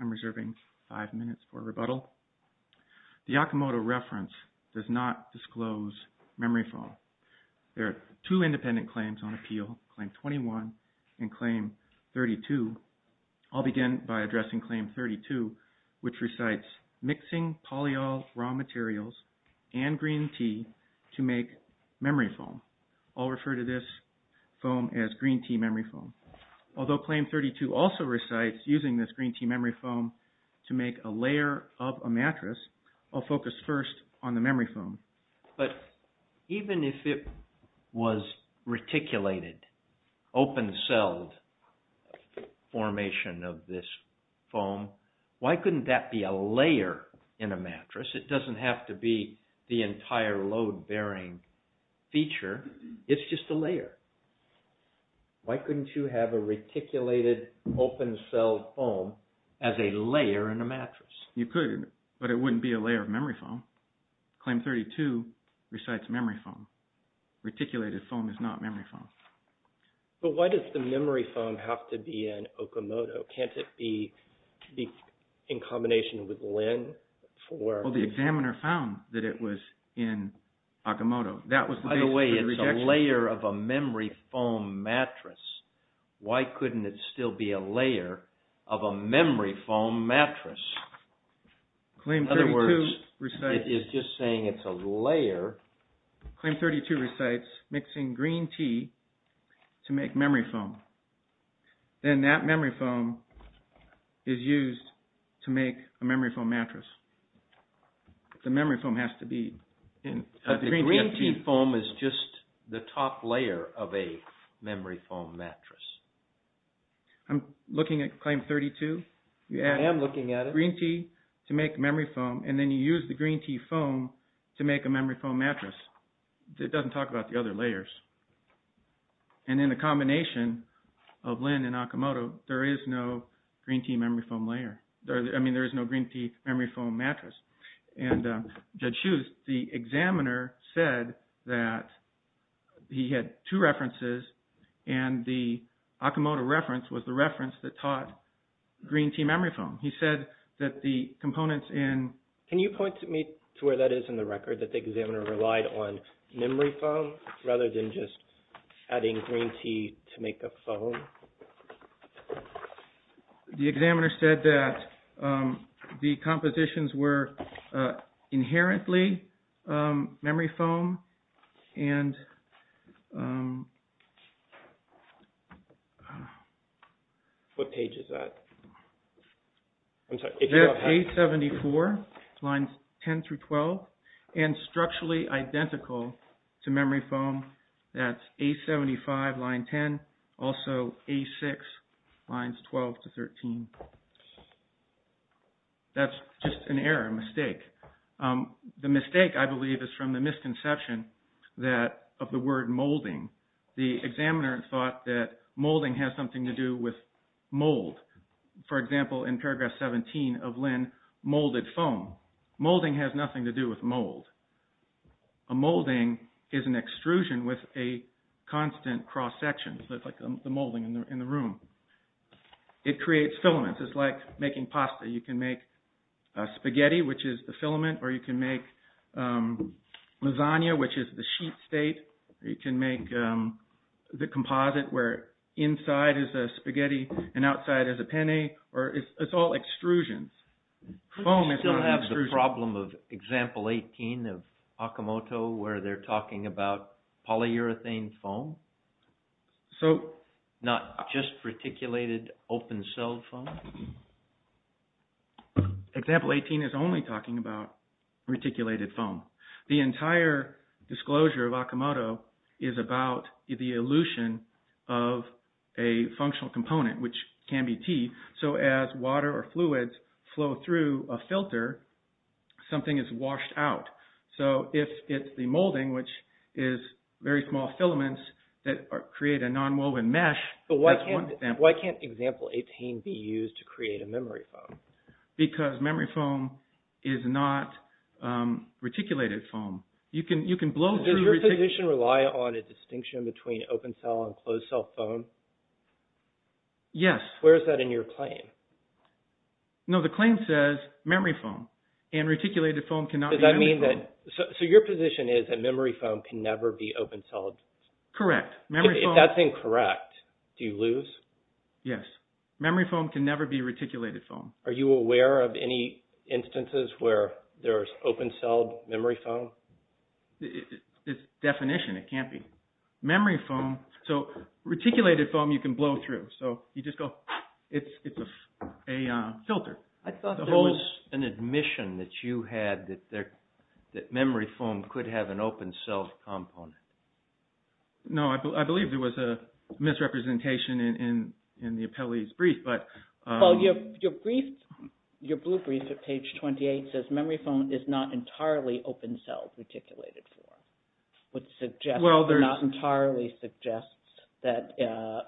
I'm reserving five minutes for rebuttal. The Yakumoto reference does not disclose memory fall. There are two independent claims on appeal, Claim 21 and Claim 32. I'll begin by addressing Claim 32, which recites mixing polyol raw materials and green tea to make memory foam. I'll refer to this foam as green tea memory foam. Although Claim 32 also recites using this green tea memory foam to make a layer of a mattress, I'll focus first on the memory foam. But even if it was reticulated, open-celled formation of this foam, why couldn't that be a layer in a mattress? It doesn't have to be the entire load-bearing feature. It's just a layer. Why couldn't you have a reticulated open-cell foam as a layer in a mattress? You could, but it wouldn't be a layer of memory foam. Claim 32 recites memory foam. Reticulated foam is not memory foam. But why does the memory foam have to be in Yakumoto? Can't it be in combination with LEN for... Well, the examiner found that it was in Yakumoto. That was the reason for the rejection. By the way, it's a layer of a memory foam mattress. Why couldn't it still be a layer of a memory foam mattress? In other words, it is just saying it's a layer. Claim 32 recites mixing green tea to make memory foam. Then that memory foam is used to make a memory foam mattress. The memory foam has to be in... The green tea foam is just the top layer of a memory foam mattress. I'm looking at claim 32. I am looking at it. Green tea to make memory foam and then you use the green tea foam to make a memory foam mattress. It doesn't talk about the other layers. And in the combination of LEN and Yakumoto, there is no green tea memory foam layer. I mean, there is no green tea memory foam mattress. And Judge Hughes, the examiner said that he had two references and the Yakumoto reference was the reference that taught green tea memory foam. He said that the components in... Can you point to me to where that is in the record that the examiner relied on memory foam rather than just adding green tea to make a foam? The examiner said that the compositions were inherently memory foam and... What page is that? It's page 74, lines 10 through 12, and structurally identical to memory foam. That's A6, lines 12 to 13. That's just an error, a mistake. The mistake, I believe, is from the misconception of the word molding. The examiner thought that molding has something to do with mold. For example, in paragraph 17 of LEN, molded foam. Molding has nothing to do with mold. A molding is an extrusion with a constant cross-section. It's like the molding in the room. It creates filaments. It's like making pasta. You can make spaghetti, which is the filament, or you can make lasagna, which is the sheet state. You can make the composite where inside is a spaghetti and outside is a penne. It's all extrusions. Don't you still have the problem of example 18 of Yakumoto where they're talking about just reticulated open-celled foam? Example 18 is only talking about reticulated foam. The entire disclosure of Yakumoto is about the elution of a functional component, which can be T. As water or fluids flow through a filter, something is washed out. If it's the molding, which is very small filaments that create a non-woven mesh, that's one example. Why can't example 18 be used to create a memory foam? Because memory foam is not reticulated foam. You can blow through reticulated foam. Does your position rely on a distinction between open-cell and closed-cell foam? Yes. Where is that in your claim? No, the claim says memory foam and reticulated foam cannot be open-celled foam. So your position is that memory foam can never be open-celled? Correct. If that's incorrect, do you lose? Yes. Memory foam can never be reticulated foam. Are you aware of any instances where there's open-celled memory foam? It's definition, it can't be. Memory foam, so reticulated foam you can blow through. So you just go, it's a filter. I thought there was an admission that you had that memory foam could have an open-celled component. No, I believe there was a misrepresentation in the appellee's brief. Well, your brief, your blue brief at page 28 says memory foam is not entirely open-celled reticulated foam. Which suggests, not entirely, suggests that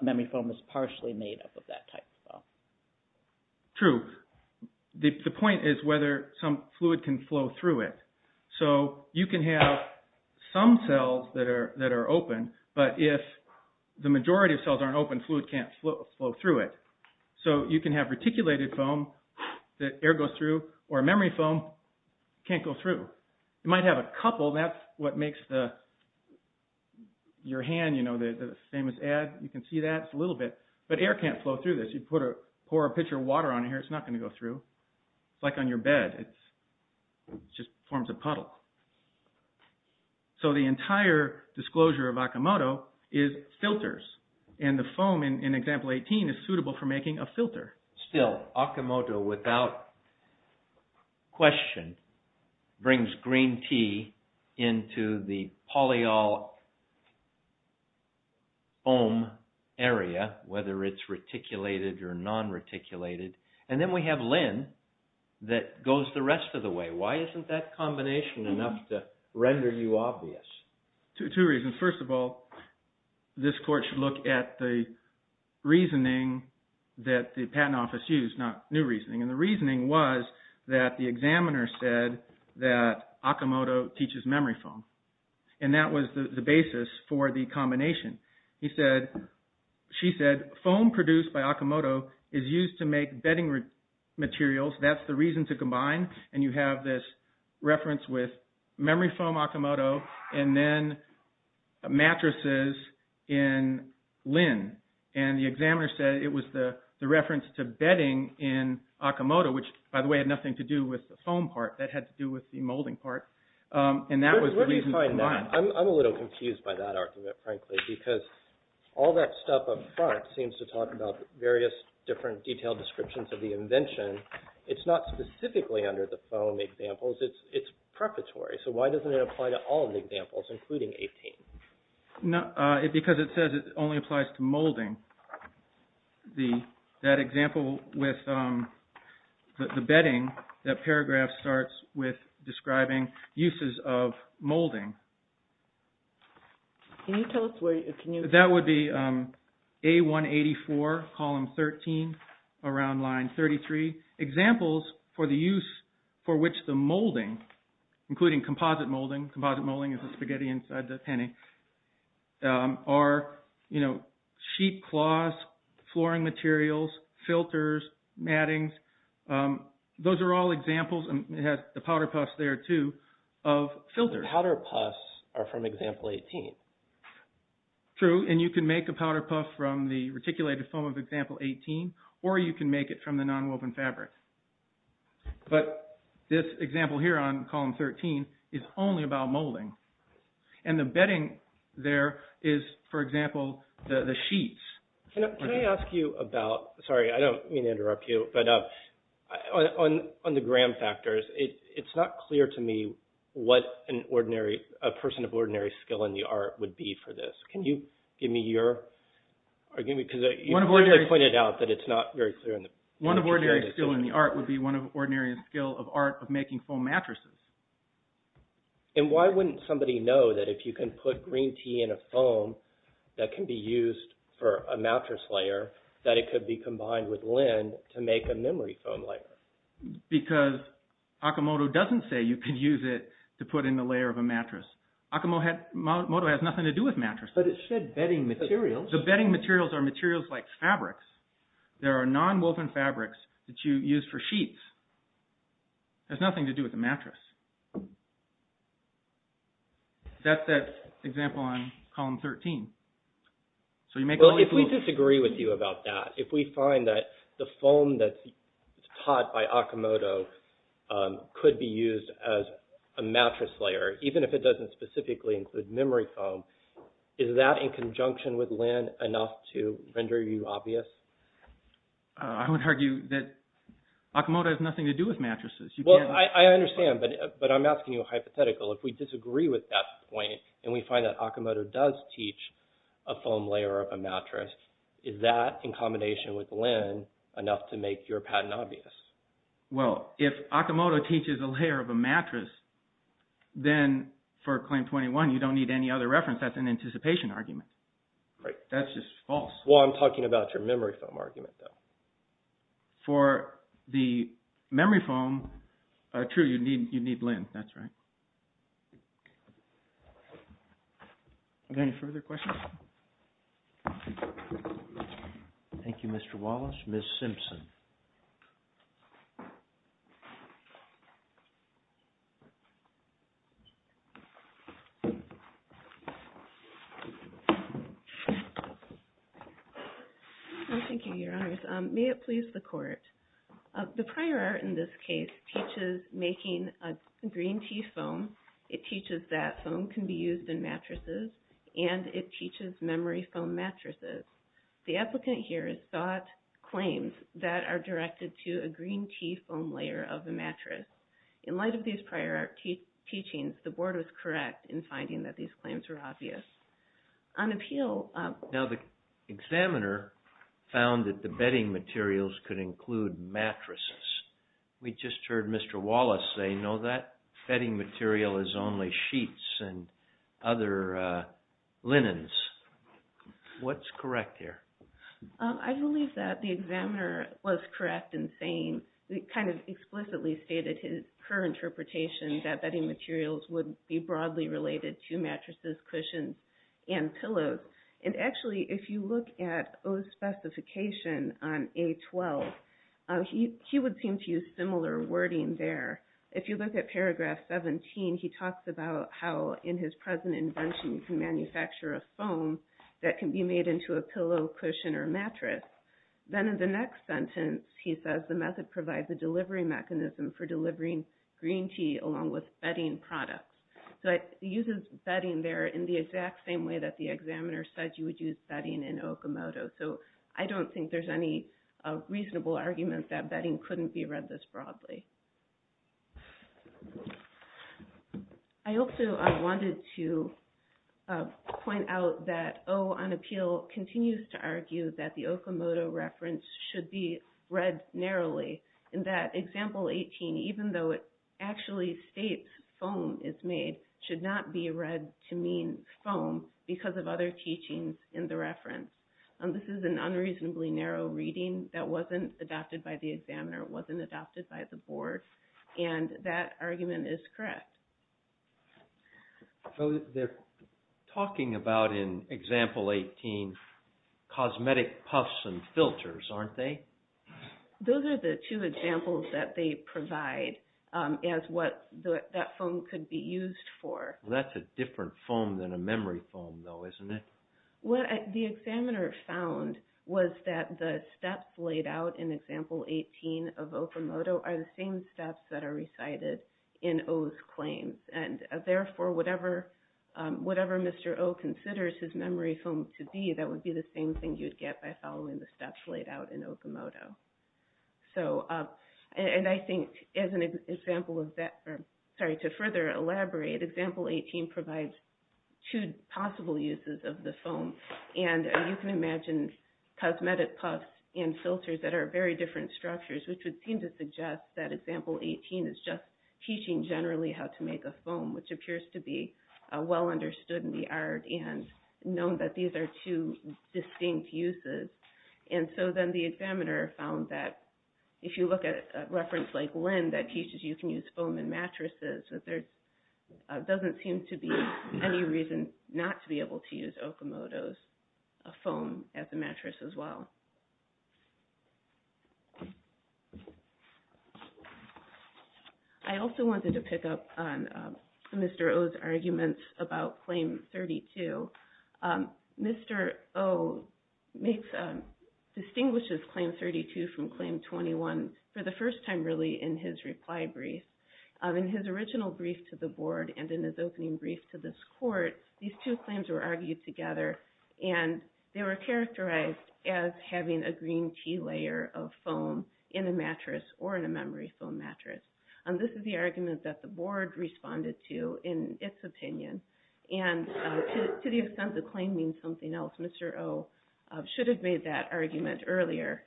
memory foam is partially made up of that type of foam. True. The point is whether some fluid can flow through it. So you can have some cells that are open, but if the majority of cells aren't open, fluid can't flow through it. So you can have reticulated foam that air goes through, or memory foam, can't go through. You might have a couple, that's what makes your hand, the famous ad, you can see that, it's a little bit. But air can't flow through this. You pour a pitcher of water on here, it's not going to go through. It's like on your bed, it just forms a puddle. So the entire disclosure of Akimoto is filters. And the foam in example 18 is suitable for making a filter. Still, Akimoto, without question, brings green tea into the polyol foam area, whether it's reticulated or non-reticulated. And then we have Lin that goes the rest of the way. Why isn't that combination enough to render you obvious? Two reasons. First of all, this court should look at the reasoning that the patent office used, not new reasoning. And the reasoning was that the examiner said that Akimoto teaches memory foam. And that was the basis for the combination. He said, she said, foam produced by Akimoto is used to make bedding materials. That's the reason to combine. And you have this reference with memory foam Akimoto, and then mattresses in Lin. And the examiner said it was the reference to bedding in Akimoto, which by the way had nothing to do with the foam part. That had to do with the molding part. And that was the reason to combine. I'm a little confused by that argument, frankly, because all that stuff up front seems to talk about various different detailed descriptions of the invention. It's not specifically under the foam examples. It's prefatory. So why doesn't it apply to all the examples, including 18? Because it says it only applies to molding. The, that example with the bedding, that paragraph starts with describing uses of molding. Can you tell us where, can you? That would be A184, column 13, around line 33. Examples for the use for which the molding, including composite molding. Composite molding is the spaghetti inside the penny. Are, you know, sheet cloths, flooring materials, filters, mattings. Those are all examples, and it has the powder puffs there too, of filters. The powder puffs are from example 18. True, and you can make a powder puff from the reticulated foam of example 18, or you can make it from the nonwoven fabric. But this example here on column 13 is only about molding. And the bedding there is, for example, the sheets. Can I ask you about, sorry, I don't mean to interrupt you, but on the gram factors, it's not clear to me what an ordinary, a person of ordinary skill in the art would be for this. Can you give me your, or give me, because you pointed out that it's not very clear. One of ordinary skill in the art would be one of ordinary skill of art of making foam mattresses. And why wouldn't somebody know that if you can put green tea in a foam that can be used for a mattress layer, that it could be combined with lint to make a memory foam layer? Because Akimoto doesn't say you can use it to put in a layer of a mattress. Akimoto has nothing to do with mattresses. But it said bedding materials. The bedding materials are materials like fabrics. There are non-woven fabrics that you use for sheets. It has nothing to do with a mattress. That's that example on column 13. So you make only foam. Well, if we disagree with you about that, if we find that the foam that's taught by Akimoto could be used as a mattress layer, even if it doesn't specifically include memory foam, is that in conjunction with lint enough to render you obvious? I would argue that Akimoto has nothing to do with mattresses. Well, I understand, but I'm asking you a hypothetical. If we disagree with that point and we find that Akimoto does teach a foam layer of a mattress, is that in combination with lint enough to make your patent obvious? Well, if Akimoto teaches a layer of a mattress, then for Claim 21, you don't need any other reference. That's an anticipation argument. That's just false. Well, I'm talking about your memory foam argument, though. For the memory foam, true, you need lint. That's right. Are there any further questions? Thank you, Mr. Wallace. Next, Ms. Simpson. Thank you, Your Honors. May it please the Court. The prior art in this case teaches making a green tea foam. It teaches that foam can be used in mattresses, and it teaches memory foam mattresses. The applicant here has sought claims that are directed to a green tea foam layer of a mattress. In light of these prior art teachings, the Board was correct in finding that these claims were obvious. Now, the examiner found that the bedding materials could include mattresses. We just heard Mr. Wallace say, no, that bedding material is only sheets and other linens. What's correct here? I believe that the examiner was correct in saying, kind of explicitly stated his current interpretation, that bedding materials would be broadly related to mattresses, cushions, and pillows. And actually, if you look at O's specification on A12, he would seem to use similar wording there. If you look at paragraph 17, he talks about how in his present invention, he can manufacture a foam that can be made into a pillow, cushion, or mattress. Then in the next sentence, he says the method provides a delivery mechanism for delivering green tea along with bedding products. So he uses bedding there in the exact same way that the examiner said you would use bedding in Okamoto. So I don't think there's any reasonable argument that bedding couldn't be read this broadly. I also wanted to point out that O on appeal continues to argue that the Okamoto reference should be read narrowly, and that example 18, even though it actually states foam is made, should not be read to mean foam because of other teachings in the reference. This is an unreasonably narrow reading that wasn't adopted by the examiner, wasn't adopted by the board, and that argument is correct. They're talking about in example 18, cosmetic puffs and filters, aren't they? Those are the two examples that they provide as what that foam could be used for. That's a different foam than a memory foam though, isn't it? What the examiner found was that the steps laid out in example 18 of Okamoto are the same steps that are recited in O's claims. And therefore, whatever Mr. O considers his memory foam to be, that would be the same thing you'd get by following the steps laid out in Okamoto. And I think to further elaborate, example 18 provides two possible uses of the foam, and you can imagine cosmetic puffs and filters that are very different structures, which would seem to suggest that example 18 is just teaching generally how to make a foam, which appears to be well understood in the art and known that these are two distinct uses. And so then the examiner found that if you look at a reference like Lynn that teaches you can use foam in mattresses, that there doesn't seem to be any reason not to be able to use Okamoto's foam as a mattress as well. I also wanted to pick up on Mr. O's arguments about claim 32. Mr. O distinguishes claim 32 from claim 21 for the first time really in his reply brief. In his original brief to the board and in his opening brief to this court, these two claims were argued together, and they were characterized as having a green tea layer of foam in a mattress or in a memory foam mattress. This is the argument that the board responded to in its opinion. And to the extent the claim means something else, Mr. O should have made that argument earlier.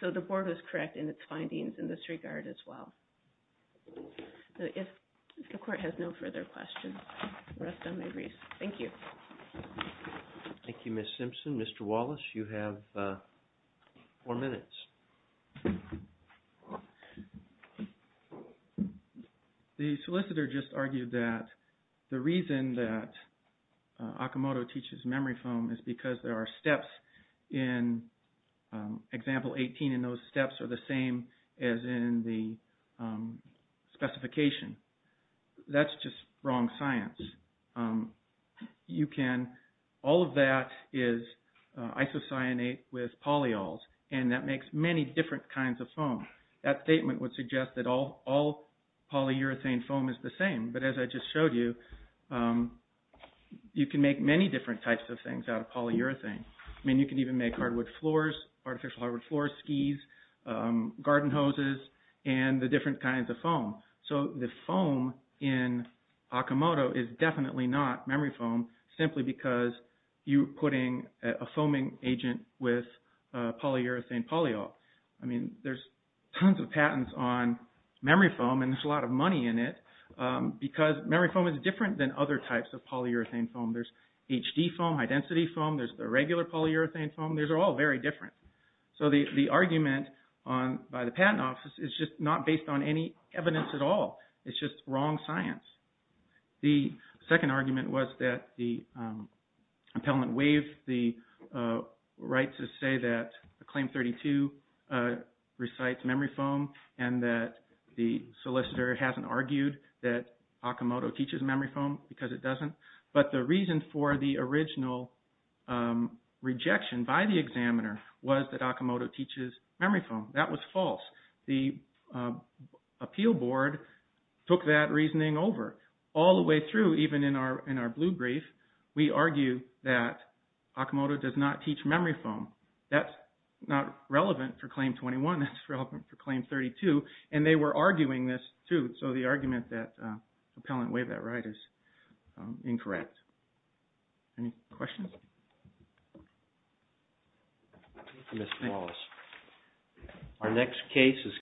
So the board was correct in its findings in this regard as well. If the court has no further questions, I'll rest on my briefs. Thank you. Thank you, Ms. Simpson. Mr. Wallace, you have four minutes. The solicitor just argued that the reason that Okamoto teaches memory foam is because there are steps in example 18, and those steps are the same as in the specification. That's just wrong science. All of that is isocyanate with polyols, and that makes many different kinds of foam. That statement would suggest that all polyurethane foam is the same. But as I just showed you, you can make many different types of things out of polyurethane. I mean, you can even make hardwood floors, artificial hardwood floors, skis, garden hoses, and the different kinds of foam. So the foam in Okamoto is definitely not memory foam, simply because you're putting a foaming agent with polyurethane polyol. I mean, there's tons of patents on memory foam, and there's a lot of money in it, because memory foam is different than other types of polyurethane foam. There's HD foam, high-density foam. There's the regular polyurethane foam. Those are all very different. So the argument by the patent office is just not based on any evidence at all. It's just wrong science. The second argument was that the appellant waived the right to say that Claim 32 recites memory foam and that the solicitor hasn't argued that Okamoto teaches memory foam because it doesn't. But the reason for the original rejection by the examiner was that Okamoto teaches memory foam. That was false. The appeal board took that reasoning over. All the way through, even in our blue brief, we argue that Okamoto does not teach memory foam. That's not relevant for Claim 21. That's relevant for Claim 32, and they were arguing this too. So the argument that the appellant waived that right is incorrect. Any questions? Thank you, Mr. Wallace.